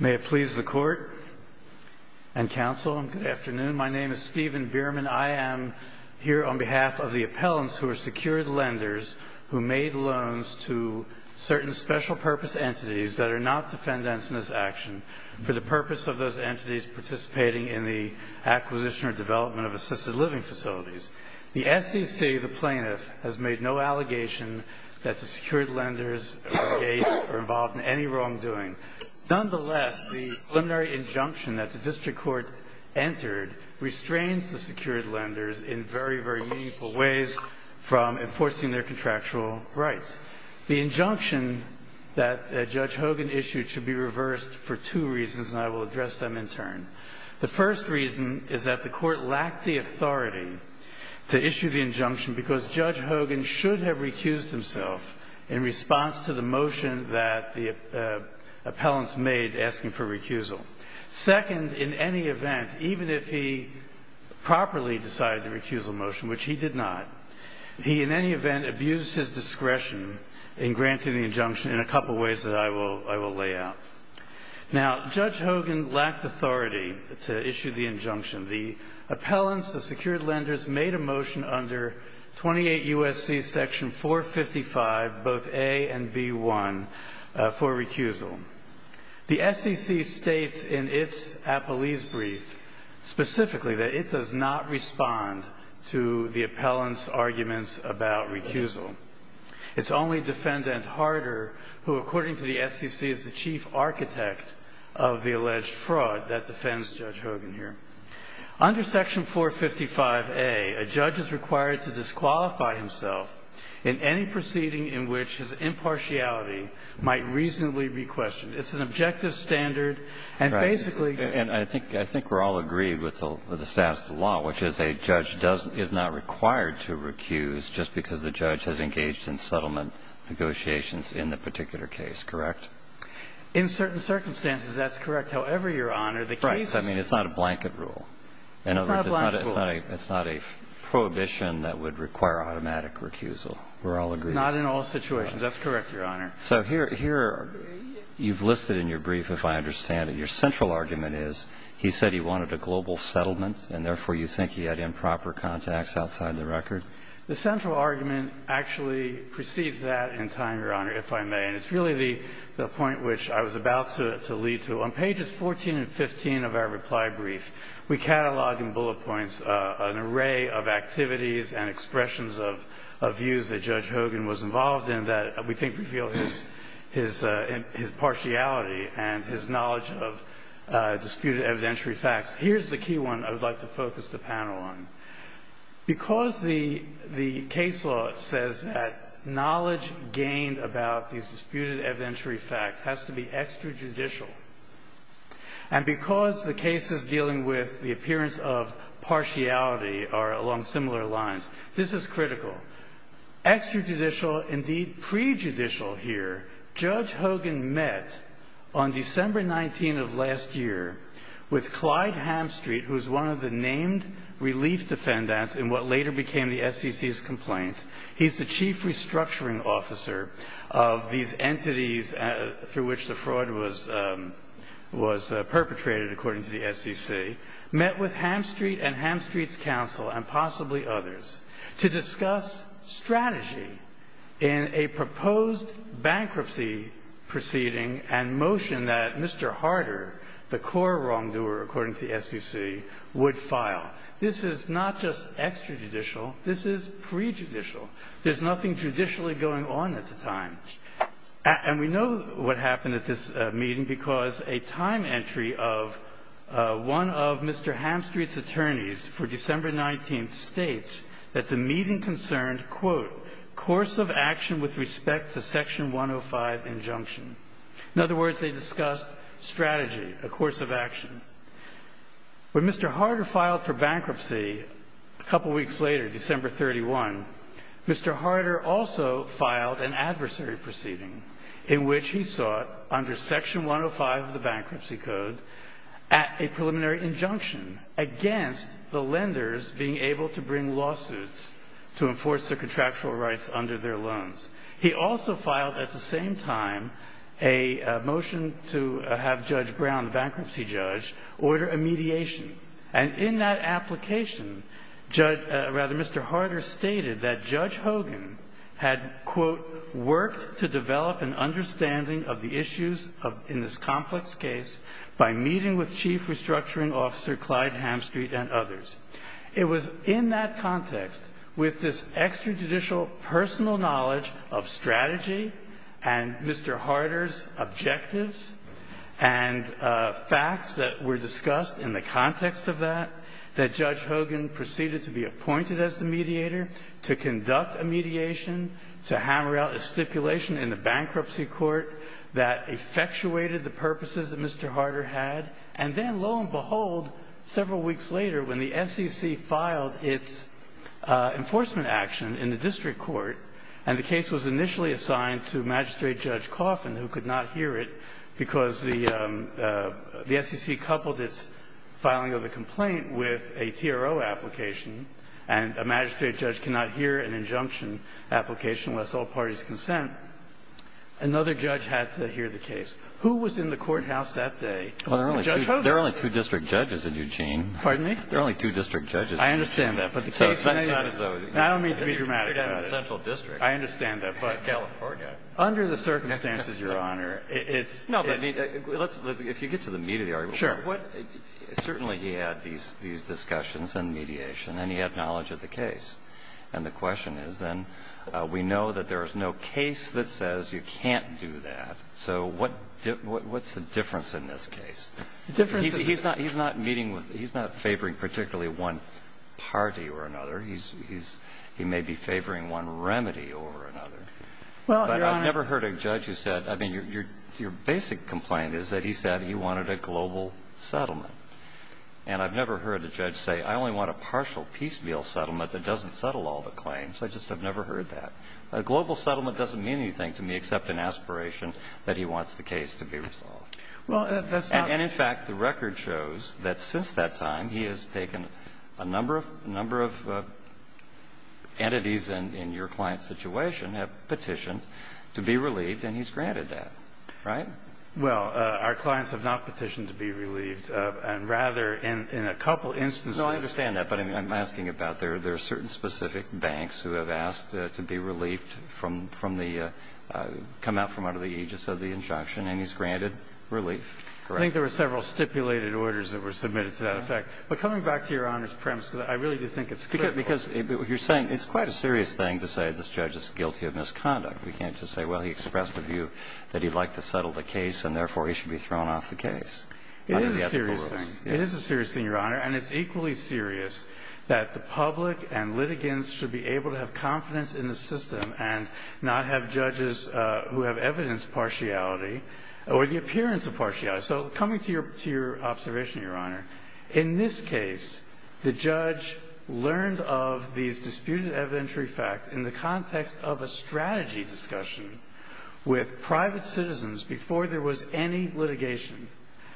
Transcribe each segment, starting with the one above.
May it please the court and counsel, good afternoon. My name is Stephen Bierman. I am here on behalf of the appellants who are secured lenders who made loans to certain special purpose entities that are not defendants in this action for the purpose of those entities participating in the acquisition or development of assisted living facilities. The SEC, the plaintiff, has made no allegation that the secured lenders engaged or involved in any wrongdoing. Nonetheless, the preliminary injunction that the district court entered restrains the secured lenders in very, very meaningful ways from enforcing their contractual rights. The injunction that Judge Hogan issued should be reversed for two reasons, and I will address them in turn. The first reason is that the court lacked the authority to issue the injunction because Judge Hogan should have recused himself in response to the motion that the appellants made asking for recusal. Second, in any event, even if he properly decided to recuse the motion, which he did not, he in any event abused his discretion in granting the injunction in a couple of ways that I will lay out. Now, Judge Hogan lacked authority to issue the injunction. The appellants, the secured lenders, made a motion under 28 U.S.C. section 455, both A and B1, for recusal. The SEC states in its appellees' brief specifically that it does not respond to the appellants' arguments about recusal. It's only Defendant Harder, who according to the SEC is the chief architect of the alleged fraud that defends Judge Hogan here. Under section 455A, a judge is required to disqualify himself in any proceeding in which his impartiality might reasonably be questioned. It's an objective standard and basically. And I think we're all agreed with the status of the law, which is a judge is not required to recuse just because the judge has engaged in settlement negotiations in the particular case, correct? In certain circumstances, that's correct. However, Your Honor, the case. Right. I mean, it's not a blanket rule. It's not a blanket rule. In other words, it's not a prohibition that would require automatic recusal. We're all agreed. Not in all situations. That's correct, Your Honor. So here you've listed in your brief, if I understand it, your central argument is he said he wanted a global settlement, and therefore you think he had improper contacts outside the record? The central argument actually precedes that in time, Your Honor, if I may. And it's really the point which I was about to lead to. On pages 14 and 15 of our reply brief, we catalog in bullet points an array of activities and expressions of views that Judge Hogan was involved in that we think reveal his partiality and his knowledge of disputed evidentiary facts. Here's the key one I would like to focus the panel on. Because the case law says that knowledge gained about these disputed evidentiary facts has to be extrajudicial, and because the cases dealing with the appearance of partiality are along similar lines, this is critical. Extrajudicial, indeed prejudicial here, Judge Hogan met on December 19 of last year with Clyde Hamstreet, who's one of the named relief defendants in what later became the SEC's complaint. He's the chief restructuring officer of these entities through which the fraud was perpetrated, according to the SEC, met with Hamstreet and Hamstreet's counsel and possibly others to discuss strategy in a proposed bankruptcy proceeding and motion that Mr. Harder, the core wrongdoer, according to the SEC, would file. This is not just extrajudicial, this is prejudicial. There's nothing judicially going on at the time. And we know what happened at this meeting because a time entry of one of Mr. Hamstreet's attorneys for December 19 states that the meeting concerned, quote, course of action with respect to Section 105 injunction. In other words, they discussed strategy, a course of action. When Mr. Harder filed for bankruptcy a couple weeks later, December 31, Mr. Harder also filed an adversary proceeding in which he sought under Section 105 of the Bankruptcy Code at a preliminary injunction against the lenders being able to bring lawsuits to enforce their contractual rights under their loans. He also filed at the same time a motion to have Judge Brown, the bankruptcy judge, order a mediation. And in that application, rather, Mr. Harder stated that Judge Hogan had, quote, worked to develop an understanding of the issues in this complex case by meeting with Chief Restructuring Officer Clyde Hamstreet and others. It was in that context, with this extrajudicial personal knowledge of strategy and Mr. Harder's objectives and facts that were discussed in the context of that, that Judge Hogan proceeded to be appointed as the mediator to conduct a mediation to hammer out a stipulation in the bankruptcy court that effectuated the purposes that Mr. Harder had. And then, lo and behold, several weeks later, when the SEC filed its enforcement action in the district court, and the case was initially assigned to Magistrate Judge Coffin, who could not hear it because the SEC coupled its filing of the complaint with a TRO application, and a magistrate judge cannot hear an injunction application unless all parties consent, another judge had to hear the case. Who was in the courthouse that day? Judge Hogan. Well, there are only two district judges in Eugene. Pardon me? There are only two district judges in Eugene. I understand that. But the case may have been in the central district. I don't mean to be dramatic about it. I understand that. But California. Under the circumstances, Your Honor, it's – No, but let's – if you get to the meat of the argument. Sure. Certainly he had these discussions and mediation, and he had knowledge of the case. And the question is, then, we know that there is no case that says you can't do that. So what's the difference in this case? The difference is – He's not meeting with – he's not favoring particularly one party or another. He's – he may be favoring one remedy or another. Well, Your Honor – But I've never heard a judge who said – I mean, your basic complaint is that he said he wanted a global settlement. And I've never heard a judge say, I only want a partial piecemeal settlement that doesn't settle all the claims. I just have never heard that. A global settlement doesn't mean anything to me except an aspiration that he wants the case to be resolved. Well, that's not – And, in fact, the record shows that since that time he has taken a number of – a number of entities in your client's situation have petitioned to be relieved, and he's granted that. Right? Well, our clients have not petitioned to be relieved. And rather, in a couple instances – No, I understand that. But I'm asking about there are certain specific banks who have asked to be relieved from the – come out from under the aegis of the injunction, and he's granted relief. I think there were several stipulated orders that were submitted to that effect. But coming back to Your Honor's premise, because I really do think it's critical – Because you're saying it's quite a serious thing to say this judge is guilty of misconduct. We can't just say, well, he expressed a view that he'd like to settle the case, and, therefore, he should be thrown off the case. It is a serious thing. It is a serious thing, Your Honor. And it's equally serious that the public and litigants should be able to have confidence in the system and not have judges who have evidence of partiality or the appearance of partiality. So coming to your observation, Your Honor, in this case, the judge learned of these disputed evidentiary facts in the context of a strategy discussion with private citizens before there was any litigation.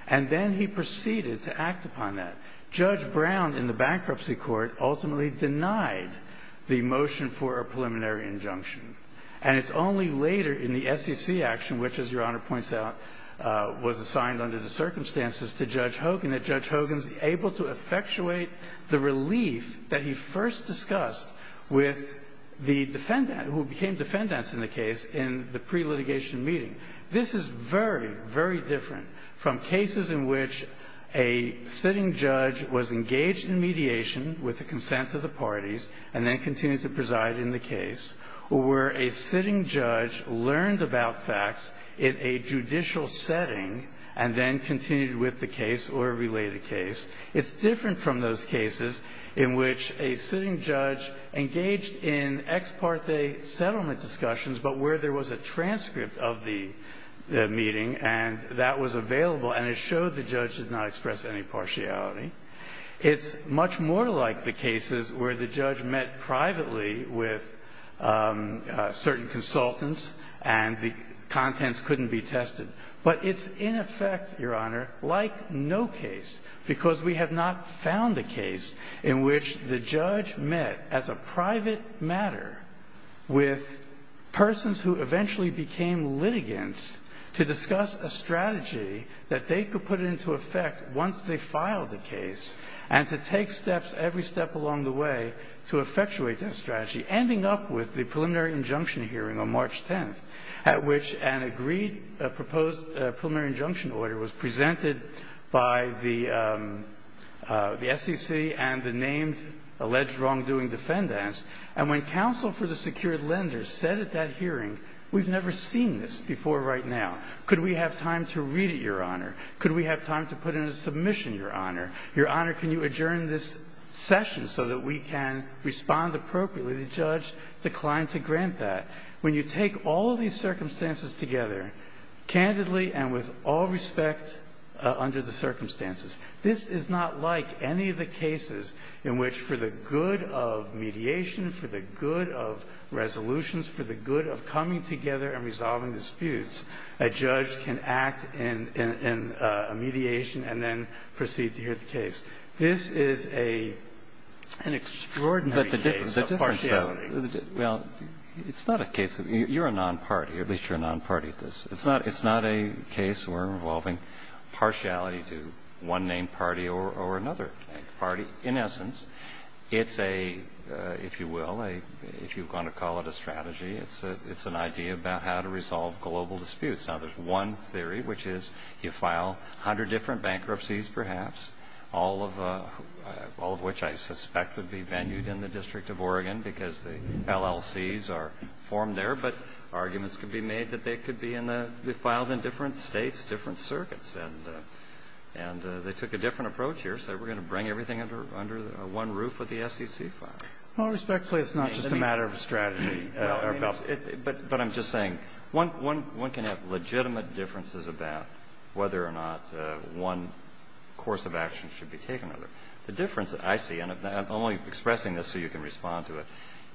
And then he proceeded to act upon that. Judge Brown in the bankruptcy court ultimately denied the motion for a preliminary injunction. And it's only later in the SEC action, which, as Your Honor points out, was assigned under the circumstances to Judge Hogan, that Judge Hogan's able to effectuate the relief that he first discussed with the defendant who became defendants in the case in the pre-litigation meeting. This is very, very different from cases in which a sitting judge was engaged in mediation with the consent of the parties and then continued to preside in the case, or where a sitting judge learned about facts in a judicial setting and then continued with the case or related case. It's different from those cases in which a sitting judge engaged in ex parte settlement discussions, but where there was a transcript of the meeting and that was available and it showed the judge did not express any partiality. It's much more like the cases where the judge met privately with certain consultants and the contents couldn't be tested. But it's in effect, Your Honor, like no case, because we have not found a case in which the judge met as a private matter with persons who eventually became litigants to discuss a strategy that they could put into effect once they filed the case and to take steps every step along the way to effectuate that strategy, ending up with the preliminary injunction hearing on March 10th, at which an agreed proposed preliminary injunction order was presented by the SEC and the named alleged wrongdoing defendants. And when counsel for the secured lenders said at that hearing, we've never seen this before right now. Could we have time to read it, Your Honor? Could we have time to put in a submission, Your Honor? Your Honor, can you adjourn this session so that we can respond appropriately? The judge declined to grant that. When you take all of these circumstances together, candidly and with all respect under the circumstances, this is not like any of the cases in which, for the good of mediation, for the good of resolutions, for the good of coming together and resolving disputes, a judge can act in a mediation and then proceed to hear the case. This is an extraordinary case of partiality. Well, it's not a case of you're a non-party. At least you're a non-party to this. It's not a case where we're involving partiality to one named party or another named party. In essence, it's a, if you will, if you're going to call it a strategy, it's an idea about how to resolve global disputes. Now, there's one theory, which is you file 100 different bankruptcies perhaps, all of which I suspect would be venued in the District of Oregon because the LLCs are formed there. But arguments could be made that they could be filed in different states, different circuits. And they took a different approach here, said we're going to bring everything under one roof with the SEC file. Well, respectfully, it's not just a matter of strategy. But I'm just saying one can have legitimate differences about whether or not one course of action should be taken. The difference that I see, and I'm only expressing this so you can respond to it,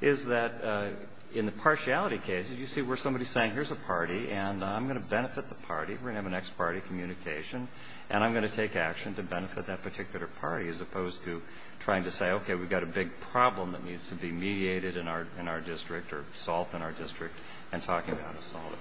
is that in the partiality case, you see where somebody is saying here's a party and I'm going to benefit the party. We're going to have an ex parte communication. And I'm going to take action to benefit that particular party as opposed to trying to say, okay, we've got a big problem that needs to be mediated in our district or solved in our district and talking about how to solve it.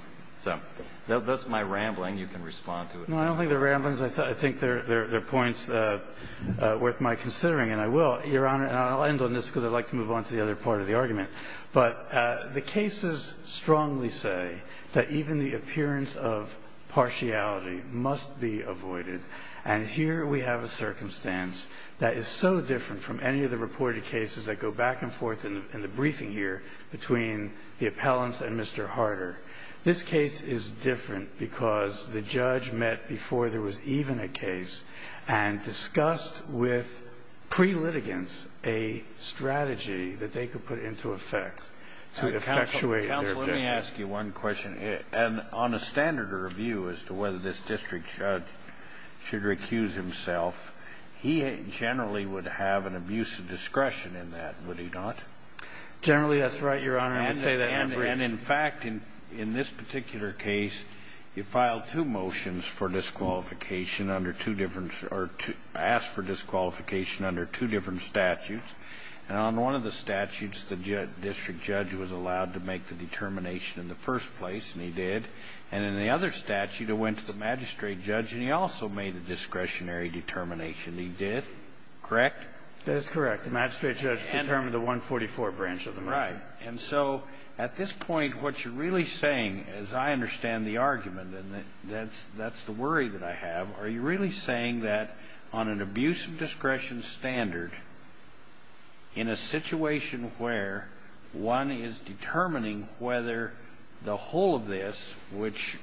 So that's my rambling. You can respond to it. No, I don't think they're ramblings. I think they're points worth my considering. And I will, Your Honor, and I'll end on this because I'd like to move on to the other part of the argument. But the cases strongly say that even the appearance of partiality must be avoided. And here we have a circumstance that is so different from any of the reported cases that go back and forth in the briefing here between the appellants and Mr. Harder. This case is different because the judge met before there was even a case and discussed with pre-litigants a strategy that they could put into effect to effectuate their objectives. Counsel, let me ask you one question. On a standard of review as to whether this district judge should recuse himself, he generally would have an abuse of discretion in that, would he not? Generally, that's right, Your Honor. And in fact, in this particular case, you filed two motions for disqualification under two different or asked for disqualification under two different statutes. And on one of the statutes, the district judge was allowed to make the determination in the first place, and he did. And in the other statute, it went to the magistrate judge, and he also made a discretionary determination. He did, correct? That is correct. The magistrate judge determined the 144 branch of the motion. Right. And so at this point, what you're really saying, as I understand the argument and that's the worry that I have, are you really saying that on an abuse of discretion standard, in a situation where one is determining whether the whole of this, which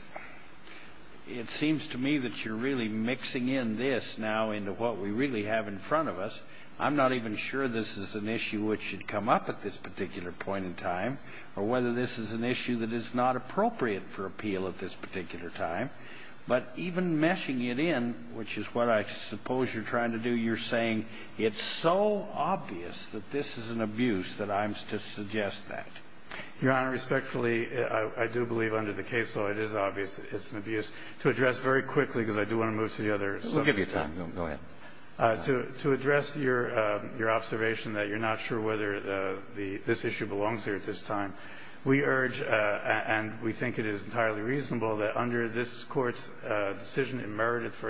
it seems to me that you're really mixing in this now into what we really have in front of us, I'm not even sure this is an issue which should come up at this particular point in time, or whether this is an issue that is not appropriate for appeal at this particular time. But even meshing it in, which is what I suppose you're trying to do, you're saying it's so obvious that this is an abuse that I'm to suggest that. Your Honor, respectfully, I do believe under the case law it is obvious that it's an abuse. To address very quickly, because I do want to move to the other subject. We'll give you time. Go ahead. To address your observation that you're not sure whether this issue belongs here at this time, we urge, and we think it is entirely reasonable, that under this Court's decision in Meredith v.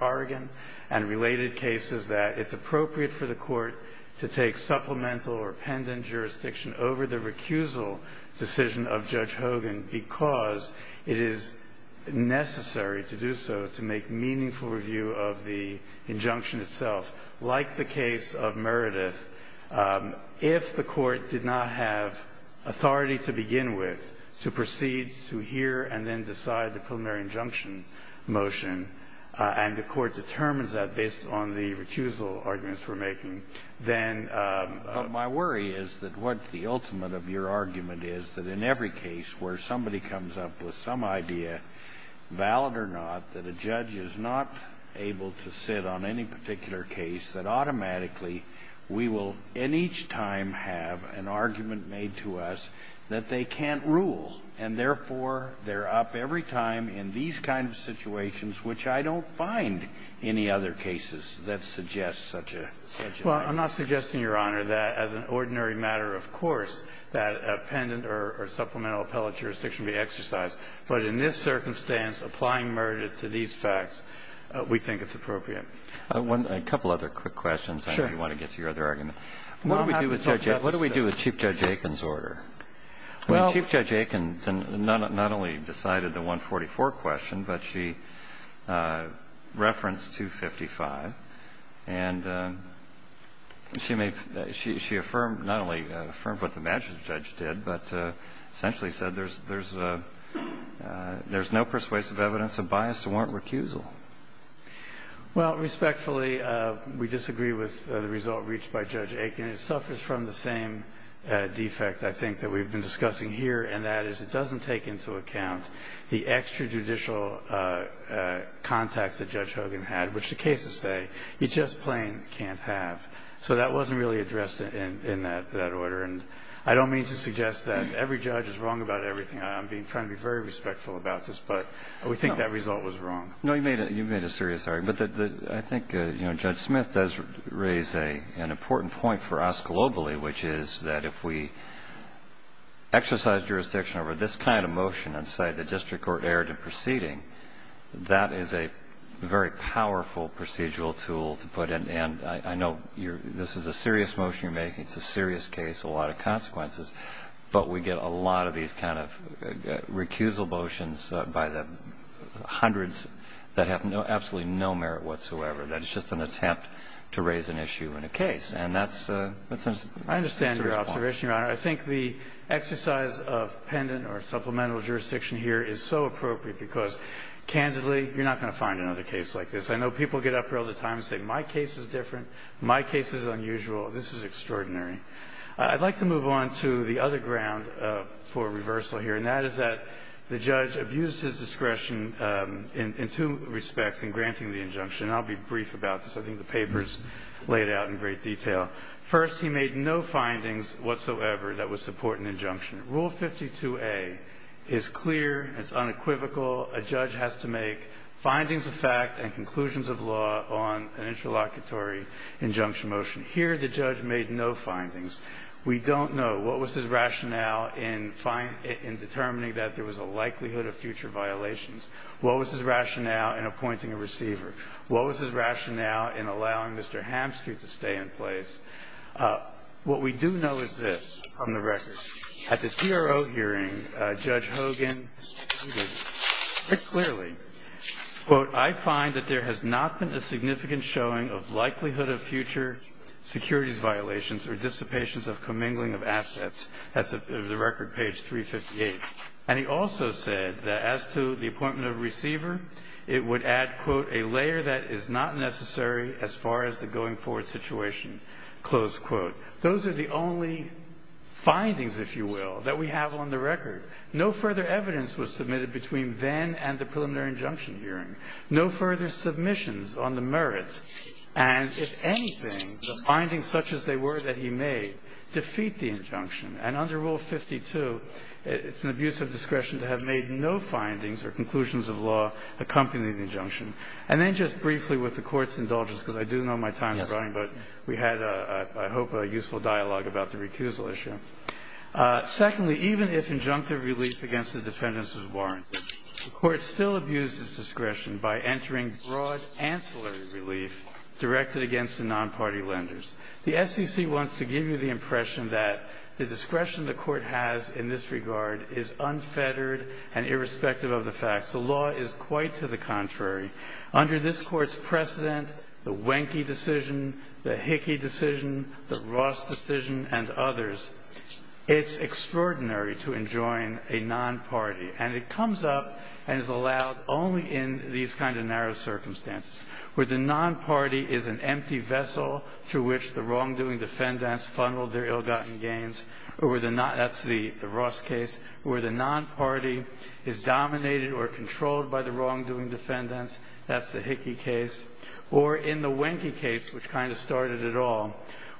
Oregon and related cases, that it's appropriate for the Court to take supplemental or pendent jurisdiction over the recusal decision of Judge Hogan because it is necessary to do so to make meaningful review of the injunction itself. Like the case of Meredith, if the Court did not have authority to begin with to proceed to hear and then decide the preliminary injunction motion, and the Court determines that based on the recusal arguments we're making, then my worry is that what the ultimate of your argument is that in every case where somebody comes up with some idea, valid or not, that a judge is not able to sit on any particular case, that automatically we will in each time have an argument made to us that they can't rule, and therefore they're up every time in these kind of situations, which I don't find any other cases that suggest such a situation. Well, I'm not suggesting, Your Honor, that as an ordinary matter, of course, that pendent or supplemental appellate jurisdiction be exercised. But in this circumstance, applying Meredith to these facts, we think it's appropriate. A couple other quick questions. Sure. I know you want to get to your other argument. What do we do with Chief Judge Aiken's order? Well. Chief Judge Aiken not only decided the 144 question, but she referenced 255. And she affirmed not only affirmed what the magistrate judge did, but essentially said there's no persuasive evidence of bias to warrant recusal. Well, respectfully, we disagree with the result reached by Judge Aiken. It suffers from the same defect, I think, that we've been discussing here, and that is it doesn't take into account the extrajudicial contacts that Judge Hogan had, which the cases say he just plain can't have. So that wasn't really addressed in that order. And I don't mean to suggest that every judge is wrong about everything. I'm trying to be very respectful about this, but we think that result was wrong. No, you made a serious argument. I think Judge Smith does raise an important point for us globally, which is that if we exercise jurisdiction over this kind of motion and say the district court erred in a case, then we have a powerful procedural tool to put in. And I know this is a serious motion you're making. It's a serious case, a lot of consequences. But we get a lot of these kind of recusal motions by the hundreds that have absolutely no merit whatsoever. That it's just an attempt to raise an issue in a case. And that's a serious point. I understand your observation, Your Honor. I think the exercise of pendant or supplemental jurisdiction here is so appropriate because, candidly, you're not going to find another case like this. I know people get up here all the time and say my case is different, my case is unusual. This is extraordinary. I'd like to move on to the other ground for reversal here, and that is that the judge abused his discretion in two respects in granting the injunction. And I'll be brief about this. I think the paper's laid out in great detail. First, he made no findings whatsoever that would support an injunction. Rule 52A is clear, it's unequivocal. A judge has to make findings of fact and conclusions of law on an interlocutory injunction motion. Here the judge made no findings. We don't know what was his rationale in determining that there was a likelihood of future violations. What was his rationale in appointing a receiver? What was his rationale in allowing Mr. Hamsky to stay in place? What we do know is this on the record. At the TRO hearing, Judge Hogan stated very clearly, quote, I find that there has not been a significant showing of likelihood of future securities violations or dissipations of commingling of assets. That's the record, page 358. And he also said that as to the appointment of a receiver, it would add, quote, a layer that is not necessary as far as the going forward situation, close quote. Those are the only findings, if you will, that we have on the record. No further evidence was submitted between then and the preliminary injunction hearing. No further submissions on the merits. And if anything, the findings such as they were that he made defeat the injunction. And under Rule 52, it's an abuse of discretion to have made no findings or conclusions of law accompanying the injunction. And then just briefly with the Court's indulgence, because I do know my time is running, but we had, I hope, a useful dialogue about the recusal issue. Secondly, even if injunctive relief against the defendants is warranted, the Court still abuses discretion by entering broad ancillary relief directed against the non-party lenders. The SEC wants to give you the impression that the discretion the Court has in this regard is unfettered and irrespective of the facts. The law is quite to the contrary. Under this Court's precedent, the Wenke decision, the Hickey decision, the Ross decision, and others, it's extraordinary to enjoin a non-party. And it comes up and is allowed only in these kind of narrow circumstances, where the non-party is an empty vessel through which the wrongdoing defendants funneled their ill-gotten gains, or where the non-party, that's the Ross case, where the non-party is dominated or controlled by the wrongdoing defendants, that's the Hickey case, or in the Wenke case, which kind of started it all,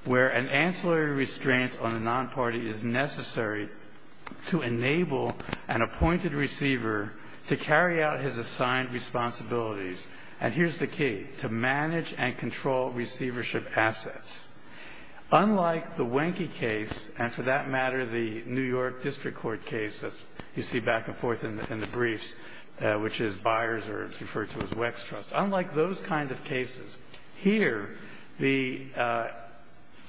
where an ancillary restraint on the non-party is necessary to enable an appointed receiver to carry out his assigned responsibilities. And here's the key, to manage and control receivership assets. Unlike the Wenke case, and for that matter, the New York District Court case that you see back and forth in the briefs, which is Byers or it's referred to as Wextrust. Unlike those kind of cases, here the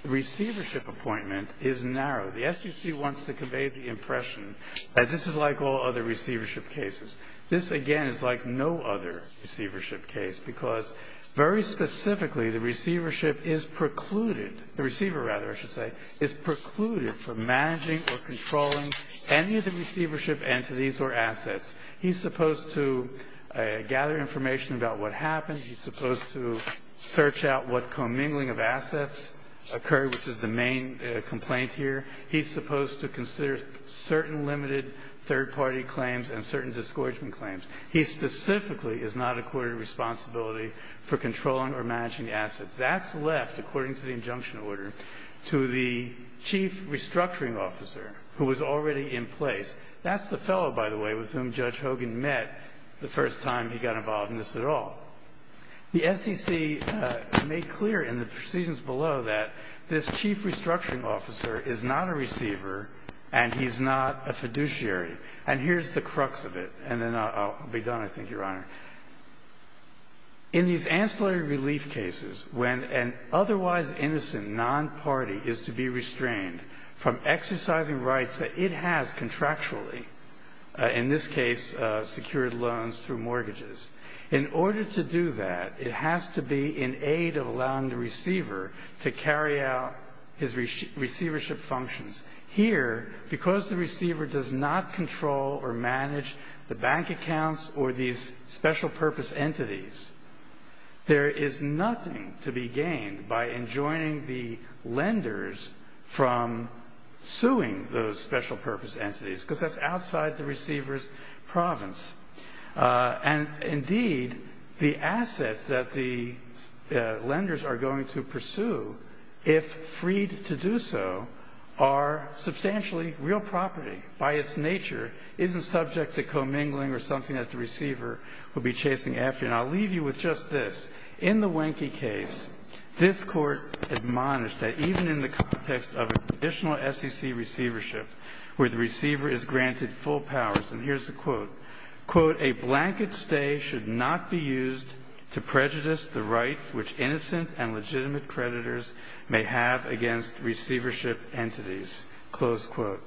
receivership appointment is narrow. The SEC wants to convey the impression that this is like all other receivership cases. This, again, is like no other receivership case, because very specifically, the receivership is precluded, the receiver, rather, I should say, is precluded from managing or controlling any of the receivership entities or assets. He's supposed to gather information about what happened. He's supposed to search out what commingling of assets occurred, which is the main complaint here. He's supposed to consider certain limited third-party claims and certain discouragement claims. He specifically is not accorded responsibility for controlling or managing assets. That's left, according to the injunction order, to the chief restructuring officer who was already in place. That's the fellow, by the way, with whom Judge Hogan met the first time he got involved in this at all. The SEC made clear in the proceedings below that this chief restructuring officer is not a receiver and he's not a fiduciary. And here's the crux of it. And then I'll be done, I think, Your Honor. In these ancillary relief cases, when an otherwise innocent non-party is to be restrained from exercising rights that it has contractually, in this case, secured loans through mortgages, in order to do that, it has to be in aid of allowing the receiver to carry out his receivership functions. Here, because the receiver does not control or manage the bank accounts or these special-purpose entities, there is nothing to be gained by enjoining the lenders from suing those special-purpose entities, because that's outside the receiver's province. And indeed, the assets that the lenders are going to pursue, if freed to do so, are substantially real property by its nature, isn't subject to commingling or something that the receiver will be chasing after. And I'll leave you with just this. In the Wenke case, this Court admonished that even in the context of a traditional SEC receivership where the receiver is granted full powers, and here's the quote, quote, a blanket stay should not be used to prejudice the rights which innocent and legitimate creditors may have against receivership entities, close quote.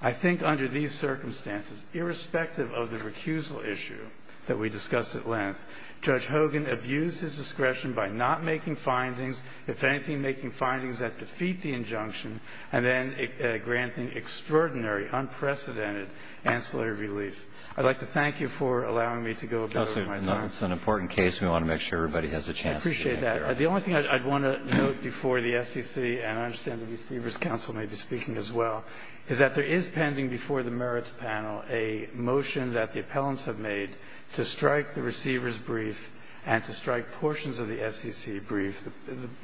I think under these circumstances, irrespective of the recusal issue that we discussed at length, Judge Hogan abused his discretion by not making findings, if anything, making findings that defeat the injunction, and then granting extraordinary, unprecedented ancillary relief. I'd like to thank you for allowing me to go a bit over my time. It's an important case. We want to make sure everybody has a chance. I appreciate that. The only thing I'd want to note before the SEC, and I understand the receivers counsel may be speaking as well, is that there is pending before the merits panel a motion that the appellants have made to strike the receiver's brief and to strike portions of the SEC brief.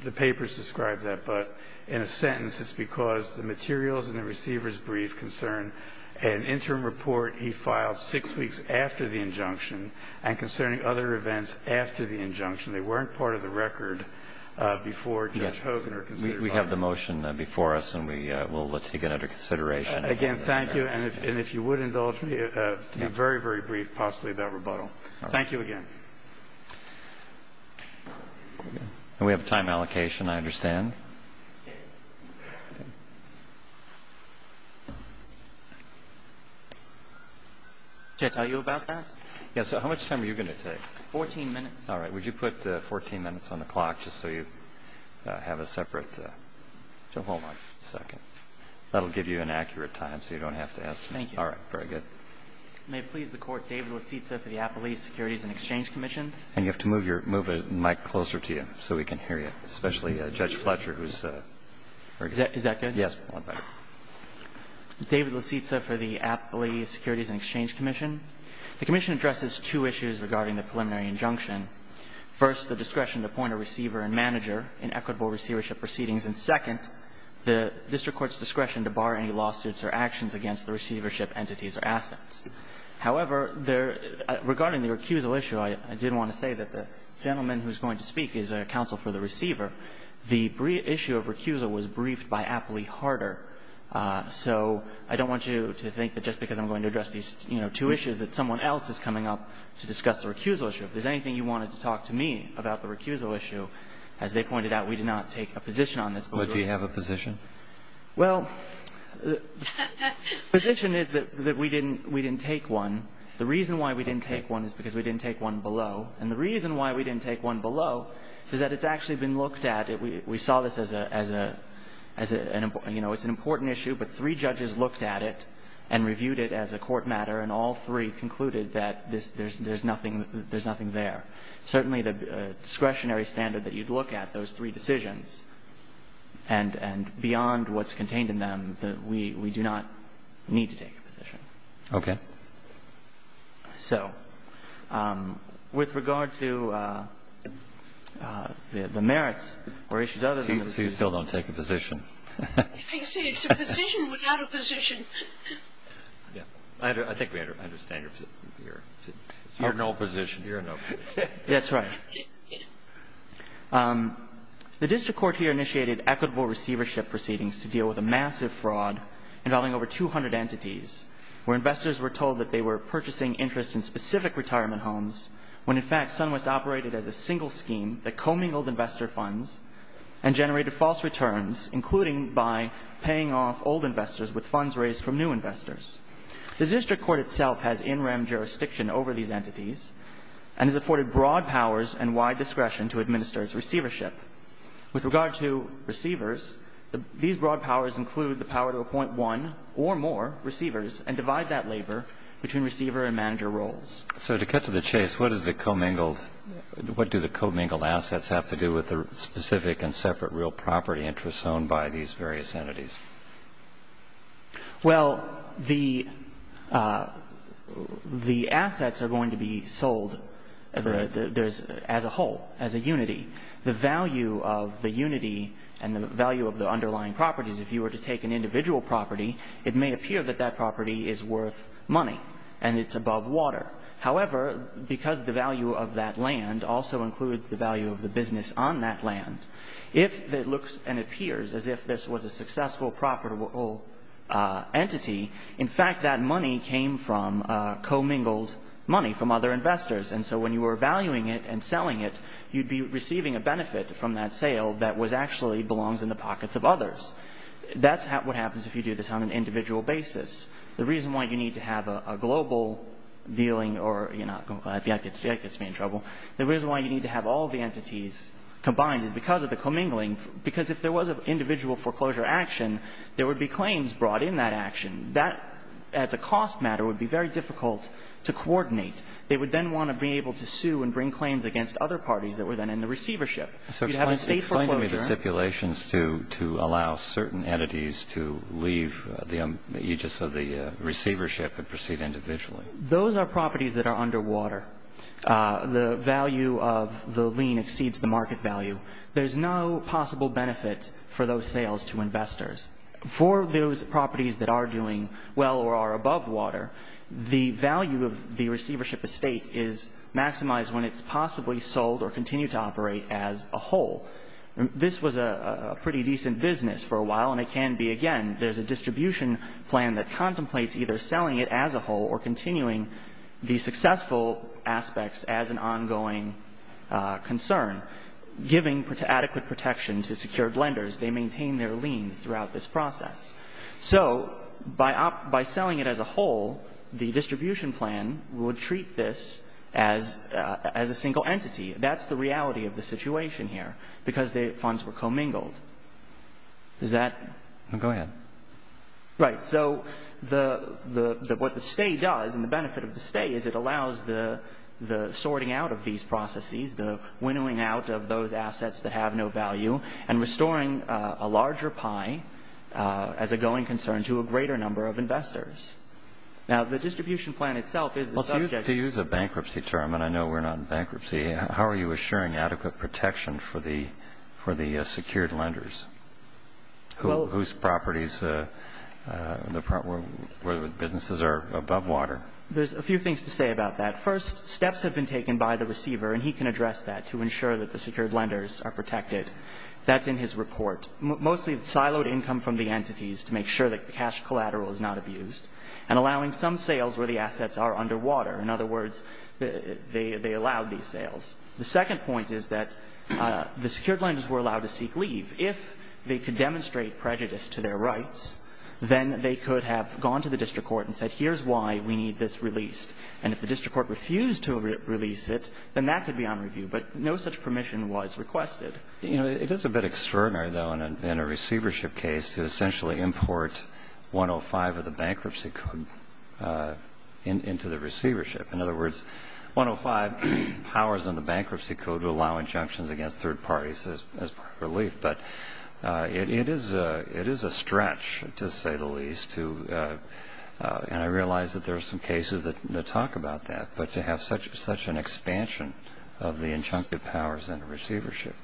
The papers describe that, but in a sentence it's because the materials in the receiver's brief concern an interim report he filed six weeks after the injunction and concerning other events after the injunction. They weren't part of the record before Judge Hogan was considered. We have the motion before us, and we'll take it under consideration. Again, thank you. And if you would indulge me, a very, very brief possibly about rebuttal. Thank you again. And we have a time allocation, I understand. Judge, are you about that? Yes. So how much time are you going to take? Fourteen minutes. All right. Would you put 14 minutes on the clock just so you have a separate? Hold on a second. That will give you an accurate time so you don't have to ask me. Thank you. All right. Very good. May it please the Court, David Licitsa for the Appellee Securities and Exchange Commission. And you have to move your mic closer to you so we can hear you, especially Judge Fletcher, who's very good. Is that good? Yes. David Licitsa for the Appellee Securities and Exchange Commission. The Commission addresses two issues regarding the preliminary injunction. First, the discretion to appoint a receiver and manager in equitable receivership proceedings. And second, the district court's discretion to bar any lawsuits or actions against the receivership entities or assets. However, regarding the recusal issue, I did want to say that the gentleman who's going to speak is a counsel for the receiver. The issue of recusal was briefed by Appellee Harder. So I don't want you to think that just because I'm going to address these, you know, two issues, that someone else is coming up to discuss the recusal issue. If there's anything you wanted to talk to me about the recusal issue, as they pointed out, we did not take a position on this. But we have a position? Well, the position is that we didn't take one. The reason why we didn't take one is because we didn't take one below. And the reason why we didn't take one below is that it's actually been looked at. We saw this as an important issue, but three judges looked at it and reviewed it as a position. And all three concluded that there's nothing there. Certainly the discretionary standard that you'd look at, those three decisions, and beyond what's contained in them, we do not need to take a position. Okay. So with regard to the merits or issues other than the position. So you still don't take a position? I say it's a position without a position. I think we understand you're in no position. You're in no position. That's right. The district court here initiated equitable receivership proceedings to deal with a massive fraud involving over 200 entities where investors were told that they were purchasing interest in specific retirement homes when, in fact, SunWest operated as a single scheme that co-mingled investor funds and generated false returns, including by paying off old investors with funds raised from new investors. The district court itself has in-rem jurisdiction over these entities and has afforded broad powers and wide discretion to administer its receivership. With regard to receivers, these broad powers include the power to appoint one or more receivers and divide that labor between receiver and manager roles. So to cut to the chase, what do the co-mingled assets have to do with the specific and separate real property interests owned by these various entities? Well, the assets are going to be sold as a whole, as a unity. The value of the unity and the value of the underlying properties, if you were to take an individual property, it may appear that that property is worth money and it's above water. However, because the value of that land also includes the value of the business on that land, if it looks and appears as if this was a successful property entity, in fact, that money came from co-mingled money from other investors. And so when you were valuing it and selling it, you'd be receiving a benefit from that sale that actually belongs in the pockets of others. That's what happens if you do this on an individual basis. The reason why you need to have a global dealing or, you know, that gets me in trouble. The reason why you need to have all the entities combined is because of the co-mingling, because if there was an individual foreclosure action, there would be claims brought in that action. That, as a cost matter, would be very difficult to coordinate. They would then want to be able to sue and bring claims against other parties that were then in the receivership. So explain to me the stipulations to allow certain entities to leave the aegis of the receivership and proceed individually. Those are properties that are underwater. The value of the lien exceeds the market value. There's no possible benefit for those sales to investors. For those properties that are doing well or are above water, the value of the receivership estate is maximized when it's possibly sold or continued to operate as a whole. This was a pretty decent business for a while, and it can be again. There's a distribution plan that contemplates either selling it as a whole or continuing the successful aspects as an ongoing concern, giving adequate protection to secured lenders. They maintain their liens throughout this process. So by selling it as a whole, the distribution plan would treat this as a single entity. That's the reality of the situation here because the funds were commingled. Does that? Go ahead. Right. So what the stay does and the benefit of the stay is it allows the sorting out of these processes, the winnowing out of those assets that have no value, and restoring a larger pie as a going concern to a greater number of investors. Now, the distribution plan itself is the subject. To use a bankruptcy term, and I know we're not in bankruptcy, how are you assuring adequate protection for the secured lenders whose properties, businesses are above water? There's a few things to say about that. First, steps have been taken by the receiver, and he can address that, to ensure that the secured lenders are protected. That's in his report. Mostly siloed income from the entities to make sure that cash collateral is not abused and allowing some sales where the assets are underwater. In other words, they allowed these sales. The second point is that the secured lenders were allowed to seek leave. If they could demonstrate prejudice to their rights, then they could have gone to the district court and said, here's why we need this released. And if the district court refused to release it, then that could be on review. But no such permission was requested. It is a bit extraordinary, though, in a receivership case, to essentially import 105 of the bankruptcy code into the receivership. In other words, 105 powers in the bankruptcy code to allow injunctions against third parties as part of relief. But it is a stretch, to say the least. And I realize that there are some cases that talk about that, but to have such an expansion of the injunctive powers in a receivership.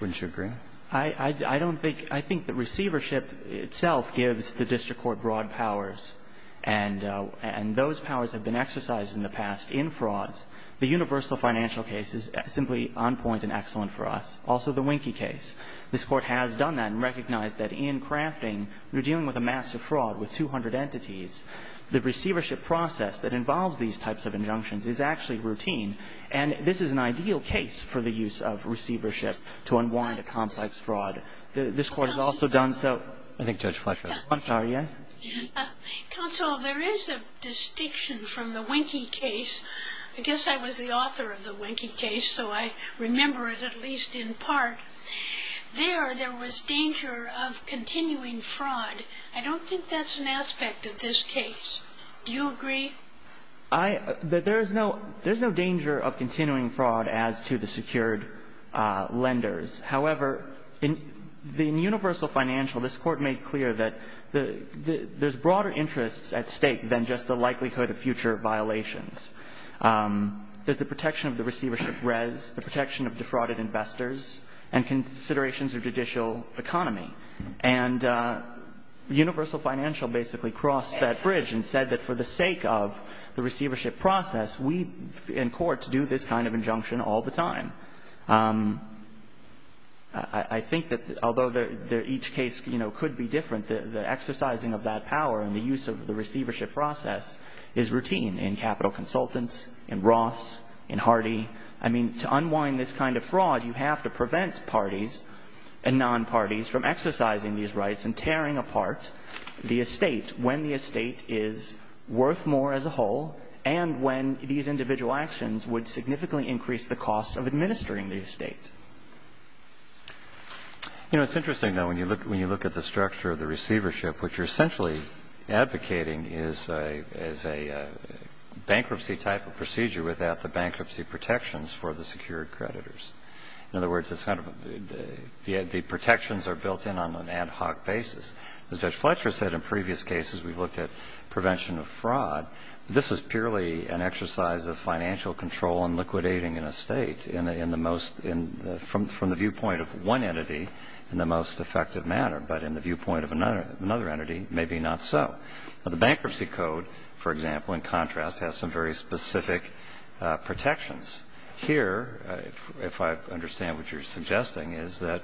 Wouldn't you agree? I think the receivership itself gives the district court broad powers, and those powers have been exercised in the past in frauds. The universal financial case is simply on point and excellent for us. Also the Winkie case. This Court has done that and recognized that in crafting, when you're dealing with a massive fraud with 200 entities, the receivership process that involves these types of injunctions is actually routine. And this is an ideal case for the use of receivership to unwind a complex fraud. This Court has also done so. I think Judge Fletcher has one. Counsel, there is a distinction from the Winkie case. I guess I was the author of the Winkie case, so I remember it at least in part. There, there was danger of continuing fraud. I don't think that's an aspect of this case. Do you agree? There's no danger of continuing fraud as to the secured lenders. However, in universal financial, this Court made clear that there's broader interests at stake than just the likelihood of future violations. There's the protection of the receivership res, the protection of defrauded investors, and considerations of judicial economy. And universal financial basically crossed that bridge and said that for the sake of the receivership process, we in courts do this kind of injunction all the time. I think that although each case, you know, could be different, the exercising of that power and the use of the receivership process is routine in capital consultants, in Ross, in Hardy. I mean, to unwind this kind of fraud, you have to prevent parties and non-parties from exercising these rights and tearing apart the estate when the estate is worth more as a whole and when these individual actions would significantly increase the costs of administering the estate. You know, it's interesting, though, when you look at the structure of the receivership, what you're essentially advocating is a bankruptcy type of procedure without the bankruptcy protections for the secured creditors. In other words, it's kind of the protections are built in on an ad hoc basis. As Judge Fletcher said in previous cases, we've looked at prevention of fraud. This is purely an exercise of financial control and liquidating an estate in the most from the viewpoint of one entity in the most effective manner, but in the viewpoint of another entity, maybe not so. The bankruptcy code, for example, in contrast, has some very specific protections. Here, if I understand what you're suggesting, is that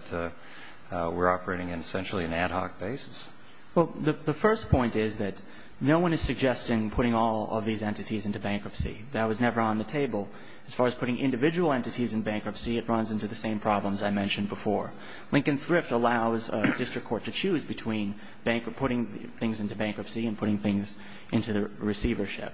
we're operating in essentially an ad hoc basis? Well, the first point is that no one is suggesting putting all of these entities into bankruptcy. That was never on the table. As far as putting individual entities in bankruptcy, it runs into the same problems I mentioned before. Lincoln Thrift allows a district court to choose between putting things into bankruptcy and putting things into the receivership.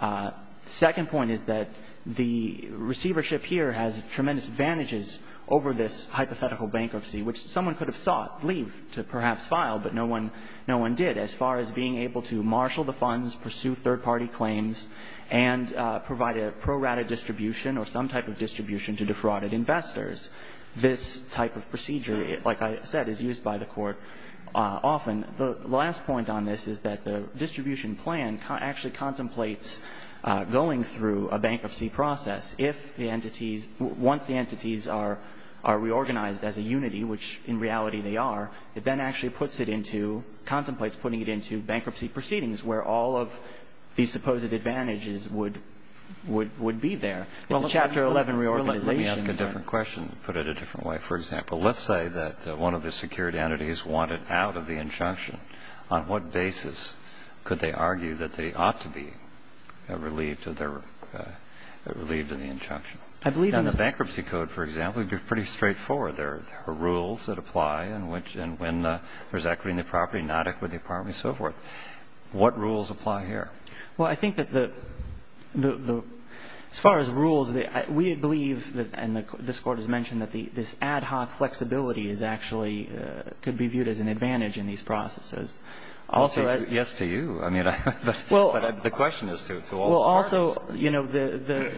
The second point is that the receivership here has tremendous advantages over this hypothetical bankruptcy, which someone could have sought leave to perhaps file, but no one did as far as being able to marshal the funds, pursue third-party claims, and provide a prorouted distribution or some type of distribution to defrauded investors. This type of procedure, like I said, is used by the court often. The last point on this is that the distribution plan actually contemplates going through a bankruptcy process. If the entities, once the entities are reorganized as a unity, which in reality they are, it then actually puts it into, contemplates putting it into bankruptcy proceedings, where all of these supposed advantages would be there. It's a Chapter 11 reorganization. Let me ask a different question, put it a different way, for example. Let's say that one of the secured entities wanted out of the injunction. On what basis could they argue that they ought to be relieved of the injunction? I believe in this. In the bankruptcy code, for example, it would be pretty straightforward. There are rules that apply in which and when there's equity in the property, not equity in the property, and so forth. What rules apply here? I think that as far as rules, we believe, and this Court has mentioned, that this ad hoc flexibility could be viewed as an advantage in these processes. Yes to you, but the question is to all parties. Also,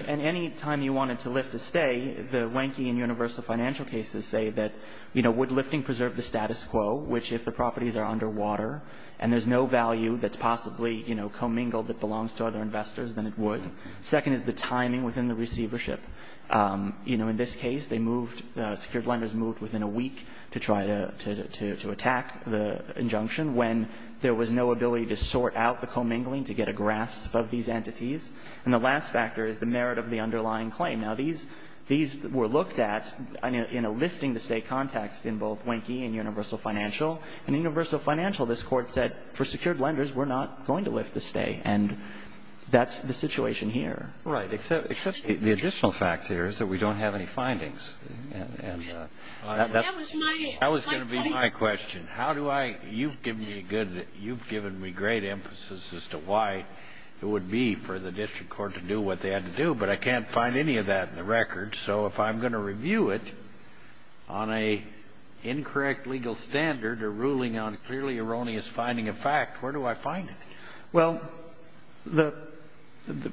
any time you wanted to lift a stay, the Wanky and Universal Financial cases say that would lifting preserve the status quo, which if the properties are underwater and there's no value that's possibly, you know, commingled that belongs to other investors, then it would. Second is the timing within the receivership. You know, in this case, they moved, secured lenders moved within a week to try to attack the injunction when there was no ability to sort out the commingling to get a grasp of these entities. And the last factor is the merit of the underlying claim. Now, these were looked at in a lifting the stay context in both Wanky and Universal Financial, and Universal Financial, this Court said, for secured lenders, we're not going to lift the stay. And that's the situation here. Right. Except the additional fact here is that we don't have any findings. That was going to be my question. How do I – you've given me a good – you've given me great emphasis as to why it would be for the district court to do what they had to do, but I can't find any of that in the record. So if I'm going to review it on an incorrect legal standard or ruling on clearly erroneous finding of fact, where do I find it? Well, the –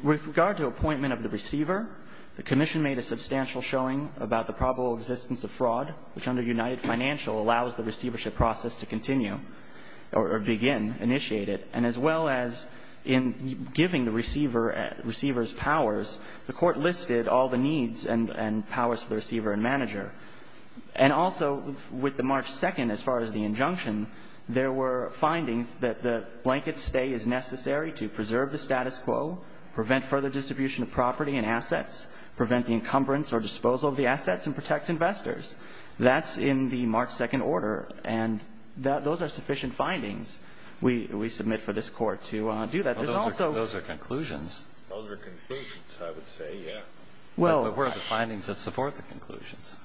with regard to appointment of the receiver, the Commission made a substantial showing about the probable existence of fraud, which under United Financial allows the receivership process to continue or begin, initiate it. And as well as in giving the receiver's powers, the Court listed all the needs and powers for the receiver and manager. And also, with the March 2nd, as far as the injunction, there were findings that the blanket stay is necessary to preserve the status quo, prevent further distribution of property and assets, prevent the encumbrance or disposal of the assets, and protect investors. That's in the March 2nd order, and those are sufficient findings we submit for this Court to do that. There's also – Those are conclusions. Those are conclusions, I would say, yes. But where are the findings that support the conclusions,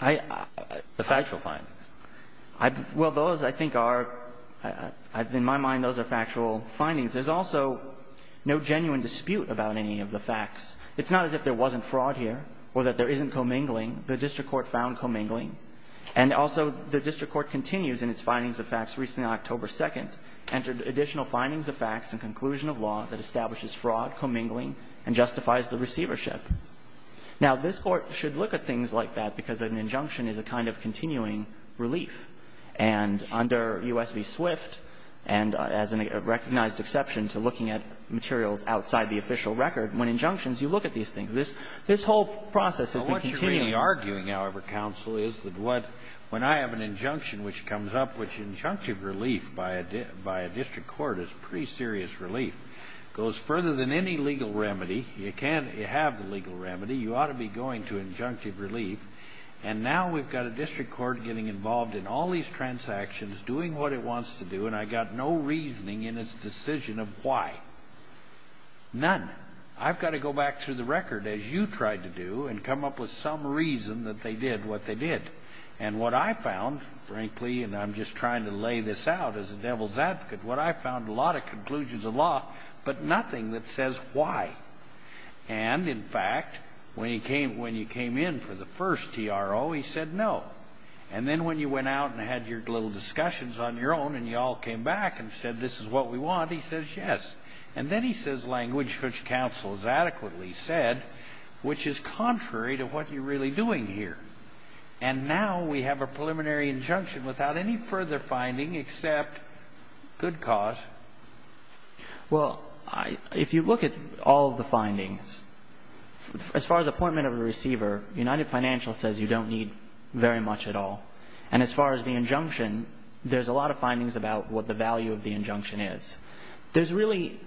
the factual findings? Well, those, I think, are – in my mind, those are factual findings. There's also no genuine dispute about any of the facts. It's not as if there wasn't fraud here or that there isn't commingling. The district court found commingling. And also, the district court continues in its findings of facts recently on October 2nd, entered additional findings of facts and conclusion of law that establishes Now, this Court should look at things like that because an injunction is a kind of continuing relief. And under U.S. v. Swift, and as a recognized exception to looking at materials outside the official record, when injunctions, you look at these things. This whole process has been continuing. Well, what you're really arguing, however, counsel, is that what – when I have an injunction which comes up, which injunctive relief by a district court is pretty serious relief, goes further than any legal remedy. You can't have the legal remedy. You ought to be going to injunctive relief. And now we've got a district court getting involved in all these transactions, doing what it wants to do, and I've got no reasoning in its decision of why. None. I've got to go back through the record, as you tried to do, and come up with some reason that they did what they did. And what I found, frankly, and I'm just trying to lay this out as a devil's advocate, what I found, a lot of conclusions of law, but nothing that says why. And, in fact, when you came in for the first TRO, he said no. And then when you went out and had your little discussions on your own and you all came back and said this is what we want, he says yes. And then he says language which counsel has adequately said, which is contrary to what you're really doing here. And now we have a preliminary injunction without any further finding except good cause. Well, if you look at all of the findings, as far as appointment of a receiver, United Financial says you don't need very much at all. And as far as the injunction, there's a lot of findings about what the value of the injunction is. There's really,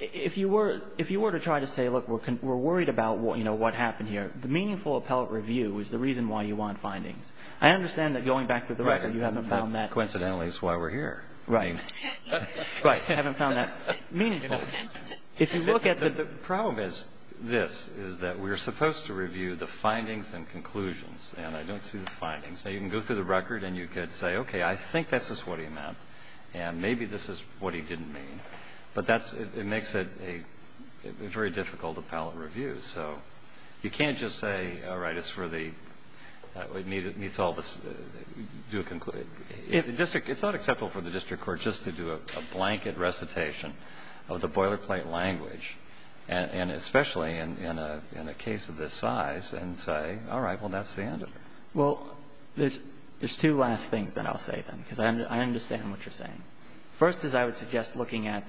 if you were to try to say, look, we're worried about what happened here, the meaningful appellate review is the reason why you want findings. I understand that going back to the record you haven't found that. Right. Coincidentally, that's why we're here. Right. Right. I haven't found that meaningful. The problem is this, is that we're supposed to review the findings and conclusions. And I don't see the findings. Now, you can go through the record and you could say, okay, I think this is what he meant. And maybe this is what he didn't mean. But it makes it a very difficult appellate review. So you can't just say, all right, it's for the, it meets all the, it's not acceptable for the district court just to do a blanket recitation of the boilerplate language, and especially in a case of this size, and say, all right, well, that's the end of it. Well, there's two last things that I'll say, then, because I understand what you're saying. First is I would suggest looking at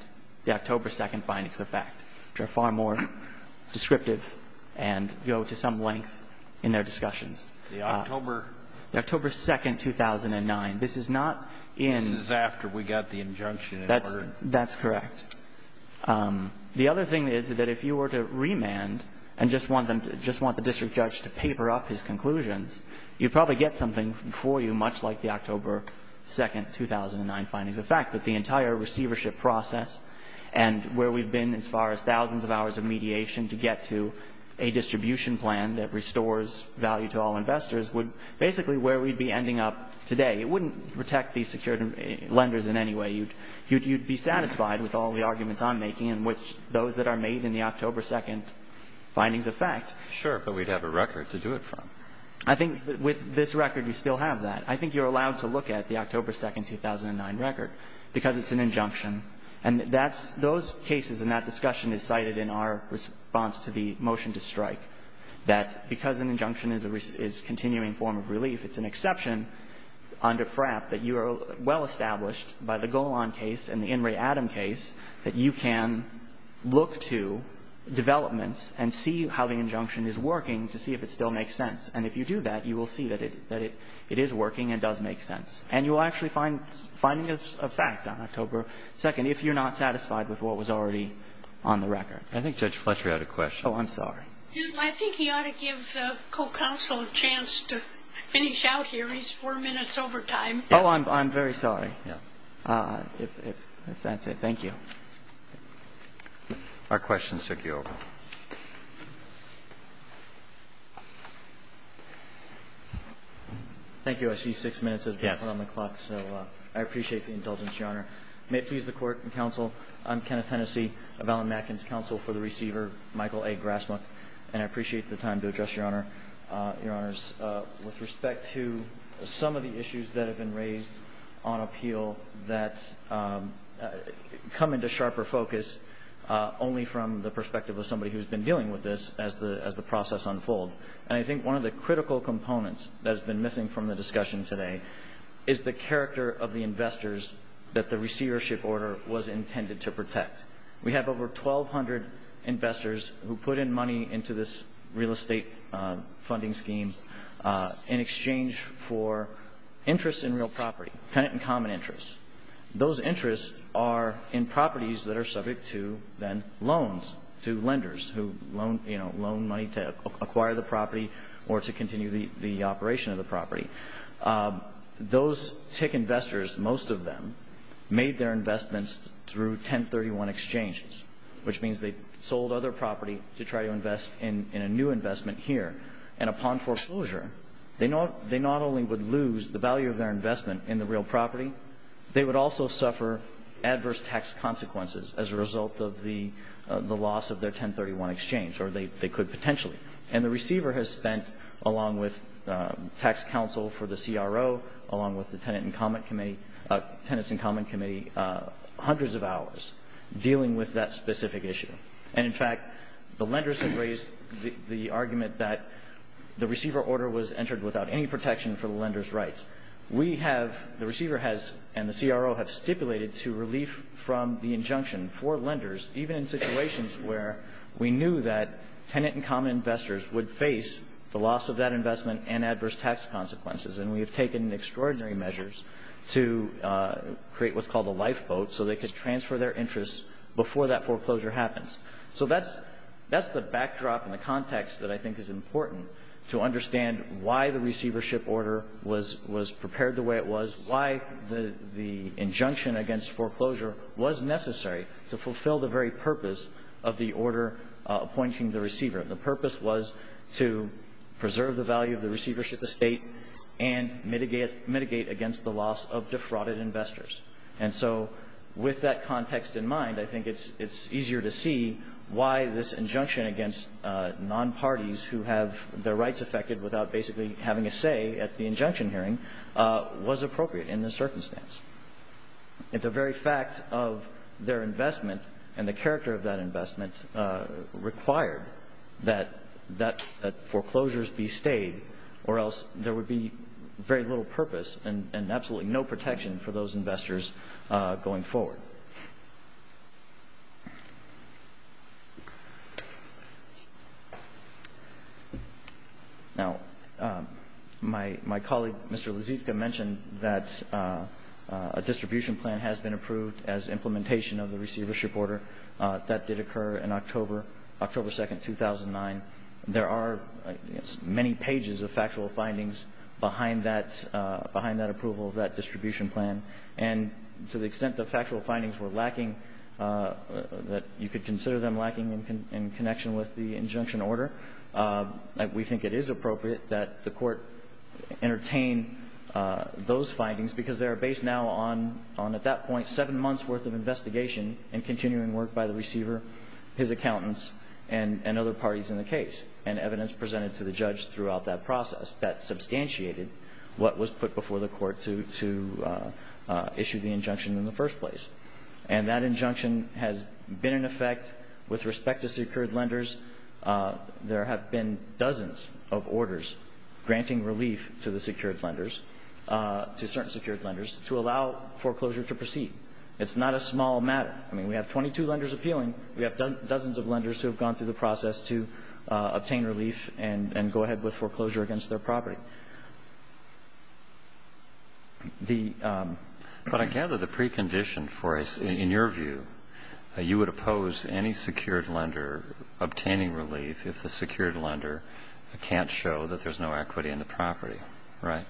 the October 2 findings of fact, which are far more descriptive and go to some length in their discussions. The October? The October 2, 2009. This is not in. This is after we got the injunction. That's correct. The other thing is that if you were to remand and just want them to, just want the district judge to paper up his conclusions, you'd probably get something for you, much like the October 2, 2009 findings. The fact that the entire receivership process and where we've been as far as thousands of hours of mediation to get to a distribution plan that restores value to all investors would basically where we'd be ending up today. It wouldn't protect these secured lenders in any way. You'd be satisfied with all the arguments I'm making and which those that are made in the October 2 findings of fact. Sure, but we'd have a record to do it from. I think with this record, we still have that. I think you're allowed to look at the October 2, 2009 record because it's an injunction. And those cases and that discussion is cited in our response to the motion to strike, that because an injunction is a continuing form of relief, it's an exception under FRAP that you are well established by the Golan case and the In re Adam case that you can look to developments and see how the injunction is working to see if it still makes sense. And if you do that, you will see that it is working and does make sense. And you will actually find findings of fact on October 2 if you're not satisfied with what was already on the record. I think Judge Fletcher had a question. Oh, I'm sorry. I think he ought to give the co-counsel a chance to finish out here. He's four minutes over time. Oh, I'm very sorry. If that's it, thank you. Our questions took you over. Thank you. I see six minutes has been put on the clock. So I appreciate the indulgence, Your Honor. May it please the Court and counsel, I'm Kenneth Hennessey of Allen Matkins Counsel for the Receiver, Michael A. Grassmuck. And I appreciate the time to address Your Honor. Your Honors, with respect to some of the issues that have been raised on appeal that come into sharper focus only from the perspective of somebody who has been dealing with this as the process unfolds. And I think one of the critical components that has been missing from the discussion today is the character of the investors that the receivership order was intended to protect. We have over 1,200 investors who put in money into this real estate funding scheme in exchange for interest in real property, tenant and common interest. Those interests are in properties that are subject to then loans to lenders who, you know, loan money to acquire the property or to continue the operation of the property. Those TIC investors, most of them, made their investments through 1031 exchanges, which means they sold other property to try to invest in a new investment here. And upon foreclosure, they not only would lose the value of their investment in the real property, they would also suffer adverse tax consequences as a result of the loss of their 1031 exchange, or they could potentially. And the receiver has spent, along with tax counsel for the CRO, along with the tenants and common committee, hundreds of hours dealing with that specific issue. And, in fact, the lenders have raised the argument that the receiver order was entered without any protection for the lender's rights. We have, the receiver has and the CRO have stipulated to relief from the injunction for lenders, even in situations where we knew that tenant and common investors would face the loss of that investment and adverse tax consequences. And we have taken extraordinary measures to create what's called a lifeboat so they could transfer their interest before that foreclosure happens. So that's the backdrop and the context that I think is important to understand why the receivership order was prepared the way it was, why the injunction against foreclosure was necessary to fulfill the very purpose of the order appointing the receiver. The purpose was to preserve the value of the receivership estate and mitigate against the loss of defrauded investors. And so with that context in mind, I think it's easier to see why this injunction against non-parties who have their rights affected without basically having a say at the injunction hearing was appropriate in this circumstance. If the very fact of their investment and the character of that investment required that foreclosures be stayed or else there would be very little purpose and absolutely no protection for those investors going forward. Now, my colleague, Mr. Lysitsky, mentioned that a distribution plan has been approved as implementation of the receivership order. That did occur in October 2, 2009. There are many pages of factual findings behind that approval of that distribution plan. And to the extent the factual findings were lacking, that you could consider them lacking in connection with the injunction order, we think it is appropriate that the Court entertain those findings because they are based now on, at that point, seven months' worth of investigation and continuing work by the receiver, his accountants, and other parties in the case and evidence presented to the judge throughout that process that substantiated what was put before the Court to issue the injunction in the first place. And that injunction has been in effect with respect to secured lenders. There have been dozens of orders granting relief to the secured lenders, to certain secured lenders, to allow foreclosure to proceed. It's not a small matter. I mean, we have 22 lenders appealing. We have dozens of lenders who have gone through the process to obtain relief and go ahead with foreclosure against their property. But I gather the precondition for it is, in your view, you would oppose any secured lender obtaining relief if the secured lender can't show that there's no equity in the property, right?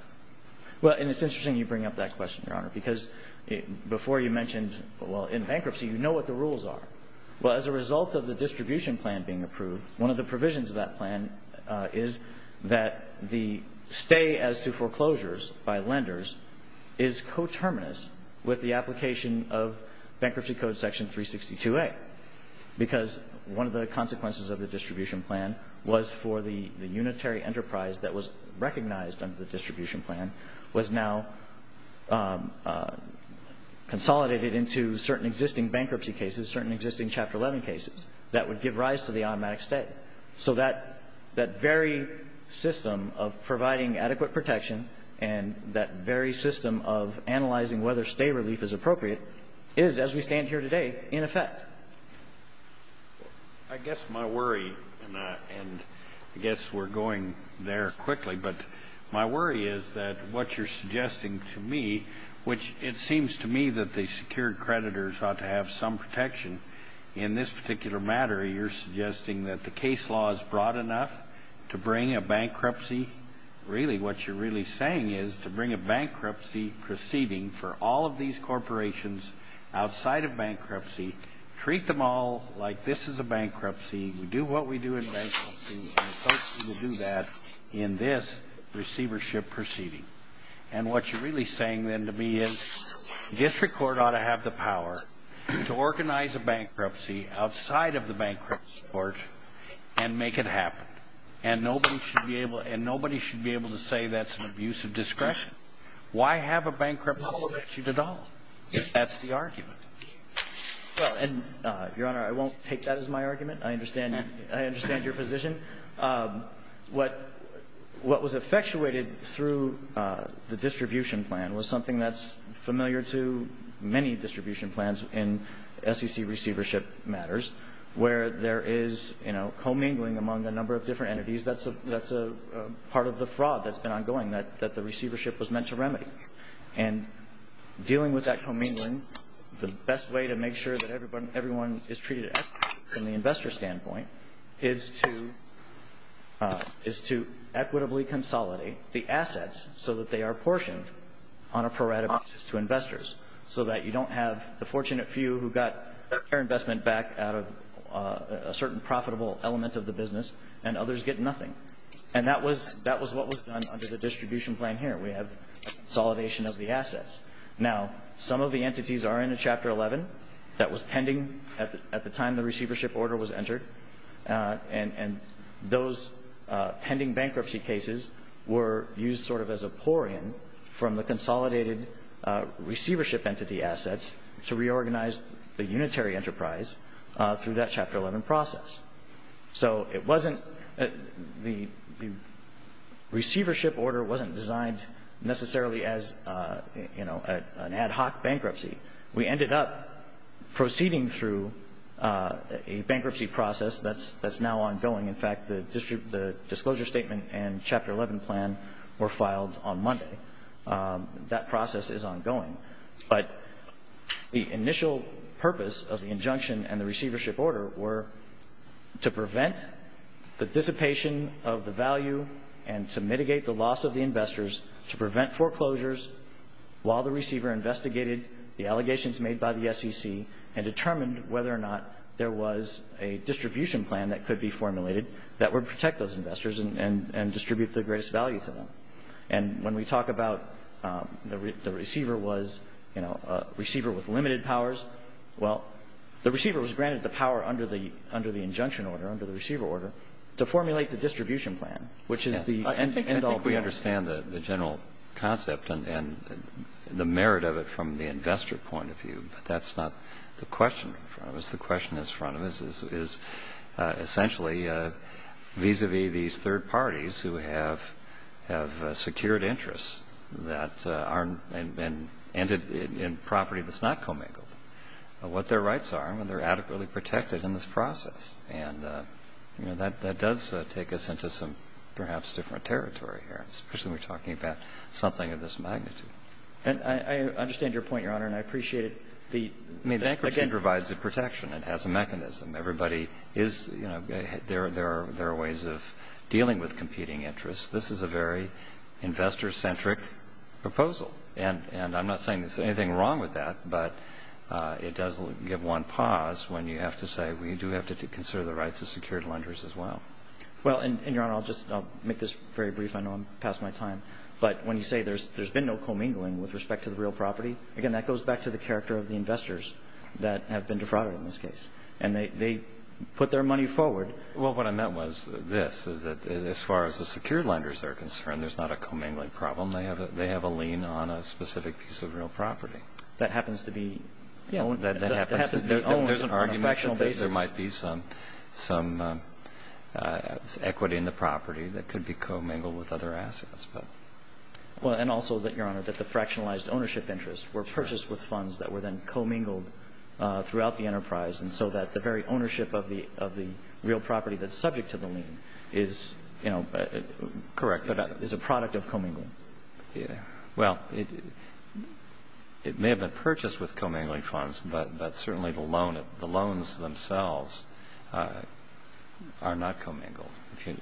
Well, and it's interesting you bring up that question, Your Honor, because before you mentioned, well, in bankruptcy, you know what the rules are. Well, as a result of the distribution plan being approved, one of the provisions of that plan is that the stay as to foreclosures by lenders is coterminous with the application of Bankruptcy Code Section 362A, because one of the consequences of the distribution plan was for the unitary enterprise that was recognized under the distribution plan was now consolidated into certain existing bankruptcy cases, certain existing Chapter 11 cases, that would give rise to the automatic stay. So that very system of providing adequate protection and that very system of analyzing whether stay relief is appropriate is, as we stand here today, in effect. I guess my worry, and I guess we're going there quickly, but my worry is that what you're suggesting to me, which it seems to me that the secured creditors ought to have some protection in this particular matter, where you're suggesting that the case law is broad enough to bring a bankruptcy. Really, what you're really saying is to bring a bankruptcy proceeding for all of these corporations outside of bankruptcy, treat them all like this is a bankruptcy. We do what we do in bankruptcy, and I hope we will do that in this receivership proceeding. And what you're really saying, then, to me is district court ought to have the power to organize a bankruptcy outside of the bankruptcy court and make it happen. And nobody should be able to say that's an abuse of discretion. Why have a bankruptcy statute at all? That's the argument. Well, and, Your Honor, I won't take that as my argument. I understand that. I understand your position. What was effectuated through the distribution plan was something that's familiar to many distribution plans in SEC receivership matters, where there is, you know, commingling among a number of different entities. That's a part of the fraud that's been ongoing, that the receivership was meant to remedy. And dealing with that commingling, the best way to make sure that everyone is treated equitably from the investor standpoint, is to equitably consolidate the assets so that they are portioned on a prorated basis to investors, so that you don't have the fortunate few who got their investment back out of a certain profitable element of the business, and others get nothing. And that was what was done under the distribution plan here. We have consolidation of the assets. Now, some of the entities are in a Chapter 11 that was pending at the time the receivership order was entered. And those pending bankruptcy cases were used sort of as a pour-in from the consolidated receivership entity assets to reorganize the unitary enterprise through that Chapter 11 process. So it wasn't the receivership order wasn't designed necessarily as, you know, an ad hoc bankruptcy. We ended up proceeding through a bankruptcy process that's now ongoing. In fact, the disclosure statement and Chapter 11 plan were filed on Monday. That process is ongoing. But the initial purpose of the injunction and the receivership order were to prevent the dissipation of the value and to mitigate the loss of the investors, to prevent foreclosures, while the receiver investigated the allegations made by the SEC and determined whether or not there was a distribution plan that could be formulated that would protect those investors and distribute the greatest value to them. And when we talk about the receiver was, you know, a receiver with limited powers, well, the receiver was granted the power under the injunction order, under the receiver order, to formulate the distribution plan, which is the end all, be all. I think we understand the general concept and the merit of it from the investor point of view. But that's not the question in front of us. The question is essentially vis-a-vis these third parties who have secured interests that aren't and ended in property that's not commingled, what their rights are and whether they're adequately protected in this process. And, you know, that does take us into some perhaps different territory here. Especially when we're talking about something of this magnitude. And I understand your point, Your Honor, and I appreciate it. The bankruptcy provides the protection. It has a mechanism. Everybody is, you know, there are ways of dealing with competing interests. This is a very investor-centric proposal. And I'm not saying there's anything wrong with that, but it does give one pause when you have to say, well, you do have to consider the rights of secured lenders as well. Well, and, Your Honor, I'll just make this very brief. I know I'm past my time. But when you say there's been no commingling with respect to the real property, again, that goes back to the character of the investors that have been defrauded in this case. And they put their money forward. Well, what I meant was this, is that as far as the secured lenders are concerned, there's not a commingling problem. They have a lien on a specific piece of real property. That happens to be owned. That happens to be owned on a fractional basis. There's an argument that there might be some equity in the property that could be commingled with other assets. Well, and also, Your Honor, that the fractionalized ownership interests were purchased with funds that were then commingled throughout the enterprise. And so that the very ownership of the real property that's subject to the lien is, you know, correct, but is a product of commingling. Well, it may have been purchased with commingling funds, but certainly the loans themselves are not commingled,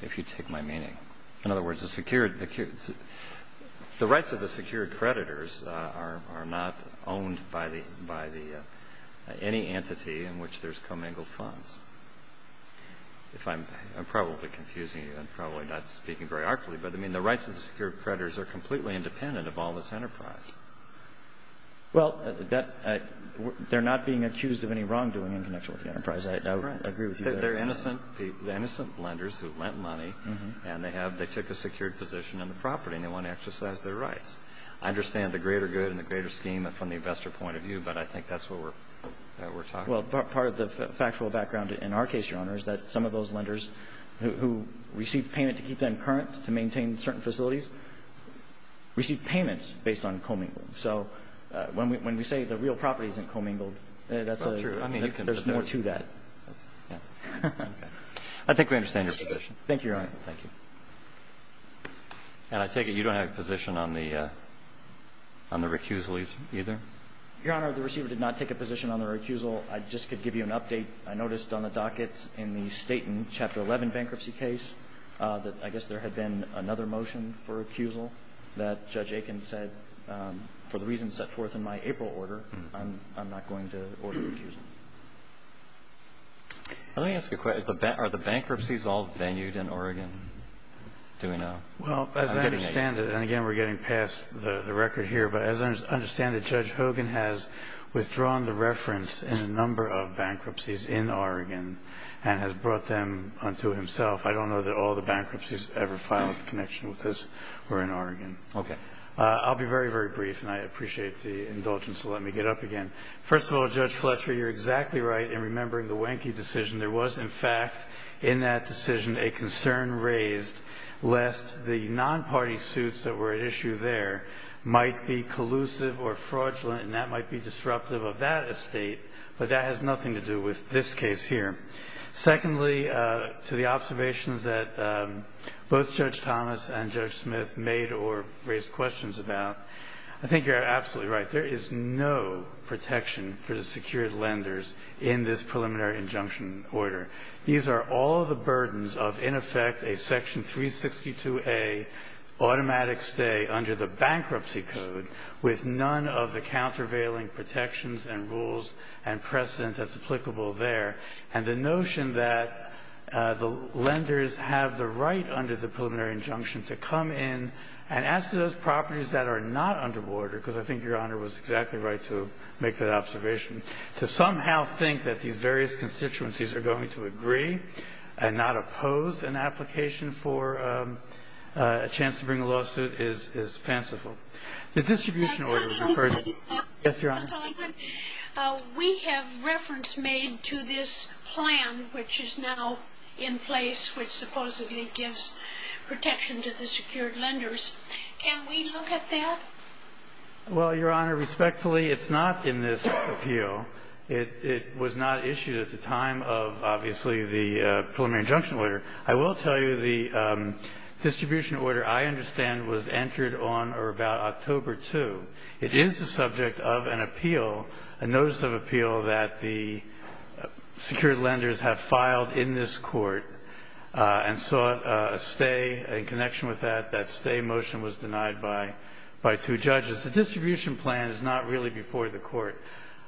if you take my meaning. In other words, the rights of the secured creditors are not owned by any entity in which there's commingled funds. If I'm probably confusing you, I'm probably not speaking very artfully, but, I mean, the rights of the secured creditors are completely independent of all this enterprise. Well, they're not being accused of any wrongdoing in connection with the enterprise. I agree with you there. They're innocent lenders who lent money, and they took a secured position on the property, and they want to exercise their rights. I understand the greater good and the greater scheme from the investor point of view, but I think that's what we're talking about. Well, part of the factual background in our case, Your Honor, is that some of those lenders who received payment to keep them current, to maintain certain facilities, received payments based on commingling. So when we say the real property isn't commingled, there's more to that. I think we understand your position. Thank you, Your Honor. Thank you. And I take it you don't have a position on the recusal either? Your Honor, the receiver did not take a position on the recusal. I just could give you an update. I noticed on the dockets in the Staten Chapter 11 bankruptcy case that I guess there had been another motion for recusal that Judge Aiken said, for the reasons set forth in my April order, I'm not going to order a recusal. Let me ask you a question. Are the bankruptcies all venued in Oregon? Do we know? Well, as I understand it, and again, we're getting past the record here, but as I understand it, Judge Hogan has withdrawn the reference in a number of bankruptcies in Oregon and has brought them unto himself. I don't know that all the bankruptcies ever filed a connection with us were in Oregon. Okay. I'll be very, very brief, and I appreciate the indulgence to let me get up again. First of all, Judge Fletcher, you're exactly right in remembering the Wanky decision. There was, in fact, in that decision, a concern raised lest the non-party suits that were at issue there might be collusive or fraudulent, and that might be disruptive of that estate, but that has nothing to do with this case here. Secondly, to the observations that both Judge Thomas and Judge Smith made or raised questions about, I think you're absolutely right. There is no protection for the secured lenders in this preliminary injunction order. These are all the burdens of, in effect, a Section 362A automatic stay under the bankruptcy code with none of the countervailing protections and rules and precedent that's applicable there, and the notion that the lenders have the right under the preliminary injunction to come in and ask for those properties that are not under the order, because I think Your Honor was exactly right to make that observation, to somehow think that these various constituencies are going to agree and not oppose an application for a chance to bring a lawsuit is fanciful. The distribution order is a burden. Yes, Your Honor. We have reference made to this plan which is now in place which supposedly gives protection to the secured lenders. Can we look at that? Well, Your Honor, respectfully, it's not in this appeal. It was not issued at the time of, obviously, the preliminary injunction order. I will tell you the distribution order, I understand, was entered on or about October 2. It is the subject of an appeal, a notice of appeal that the secured lenders have filed in this court and sought a stay in connection with that. That stay motion was denied by two judges. The distribution plan is not really before the court.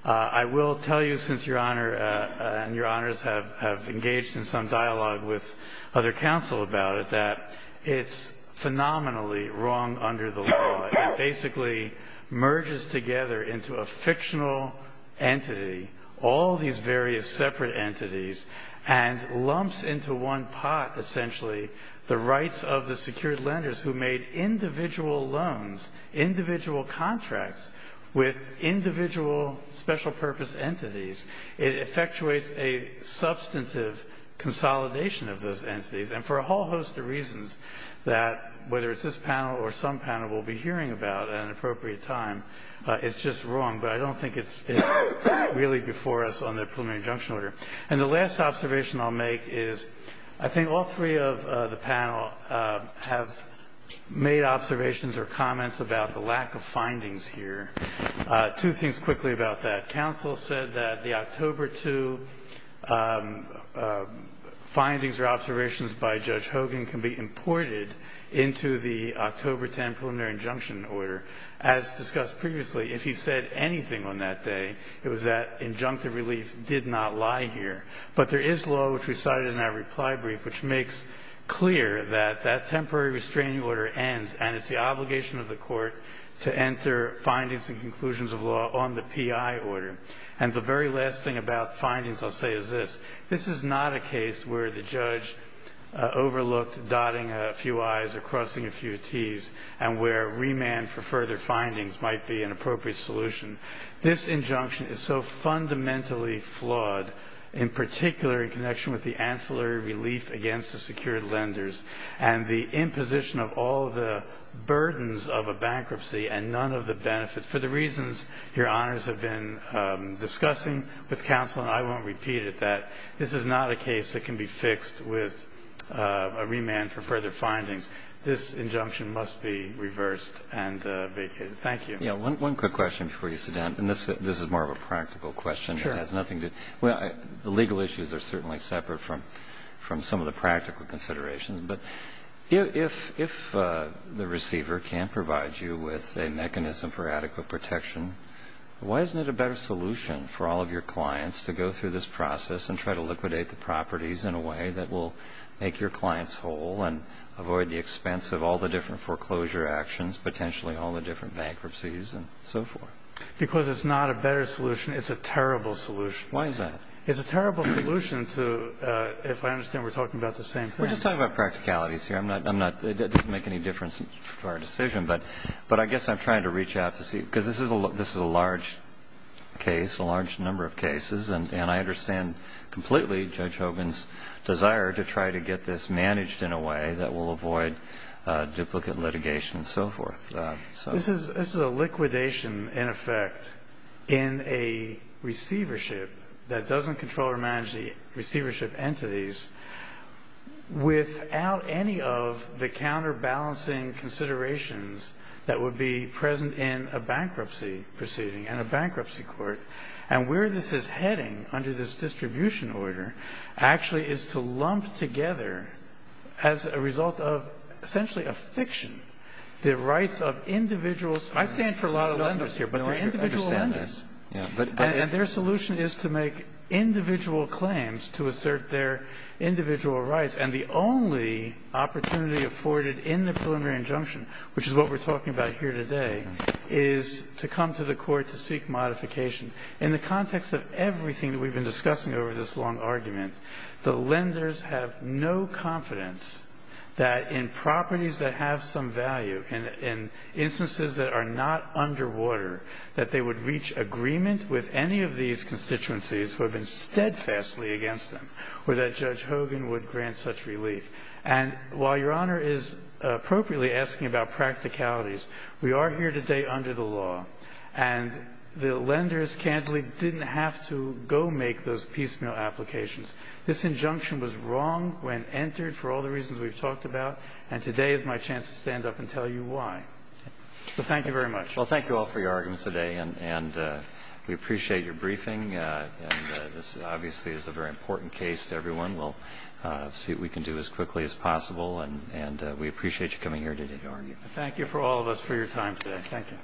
I will tell you, since Your Honor and Your Honors have engaged in some dialogue with other counsel about it, that it's phenomenally wrong under the law. It basically merges together into a fictional entity, all these various separate entities, and lumps into one pot essentially the rights of the secured lenders who made individual loans, individual contracts with individual special purpose entities. It effectuates a substantive consolidation of those entities, and for a whole host of reasons that, whether it's this panel or some panel we'll be hearing about at an appropriate time, it's just wrong, but I don't think it's really before us on the preliminary injunction order. And the last observation I'll make is I think all three of the panel have made observations or comments about the lack of findings here. Two things quickly about that. The counsel said that the October 2 findings or observations by Judge Hogan can be imported into the October 10 preliminary injunction order. As discussed previously, if he said anything on that day, it was that injunctive relief did not lie here. But there is law, which we cited in that reply brief, which makes clear that that temporary restraining order ends, and it's the obligation of the court to enter findings and conclusions of law on the PI order. And the very last thing about findings I'll say is this. This is not a case where the judge overlooked dotting a few I's or crossing a few T's and where remand for further findings might be an appropriate solution. This injunction is so fundamentally flawed, in particular in connection with the ancillary relief against the secured lenders and the imposition of all the burdens of a bankruptcy and none of the benefits. For the reasons Your Honors have been discussing with counsel, and I won't repeat it, that this is not a case that can be fixed with a remand for further findings. This injunction must be reversed and vacated. Thank you. Kennedy. Yeah. One quick question before you sit down. And this is more of a practical question. It has nothing to do – well, the legal issues are certainly separate from some of the practical considerations. But if the receiver can't provide you with a mechanism for adequate protection, why isn't it a better solution for all of your clients to go through this process and try to liquidate the properties in a way that will make your clients whole and avoid the expense of all the different foreclosure actions, potentially all the different bankruptcies and so forth? Because it's not a better solution. It's a terrible solution. Why is that? It's a terrible solution to – if I understand we're talking about the same thing. We're just talking about practicalities here. I'm not – it doesn't make any difference for our decision. But I guess I'm trying to reach out to see – because this is a large case, a large number of cases, and I understand completely Judge Hogan's desire to try to get this managed in a way that will avoid duplicate litigation and so forth. This is a liquidation, in effect, in a receivership that doesn't control or manage the receivership entities without any of the counterbalancing considerations that would be present in a bankruptcy proceeding and a bankruptcy court. And where this is heading under this distribution order actually is to lump together, as a result of essentially a fiction, the rights of individuals. I stand for a lot of lenders here, but they're individual lenders. And their solution is to make individual claims to assert their individual rights. And the only opportunity afforded in the preliminary injunction, which is what we're talking about here today, is to come to the court to seek modification. In the context of everything that we've been discussing over this long argument, the lenders have no confidence that in properties that have some value, in instances that are not underwater, that they would reach agreement with any of these constituencies who have been steadfastly against them, or that Judge Hogan would grant such relief. And while Your Honor is appropriately asking about practicalities, we are here today under the law, and the lenders candidly didn't have to go make those piecemeal applications. This injunction was wrong when entered for all the reasons we've talked about, and today is my chance to stand up and tell you why. So thank you very much. Well, thank you all for your arguments today, and we appreciate your briefing. This obviously is a very important case to everyone. We'll see what we can do as quickly as possible, and we appreciate you coming here today to argue. Thank you for all of us for your time today. Thank you.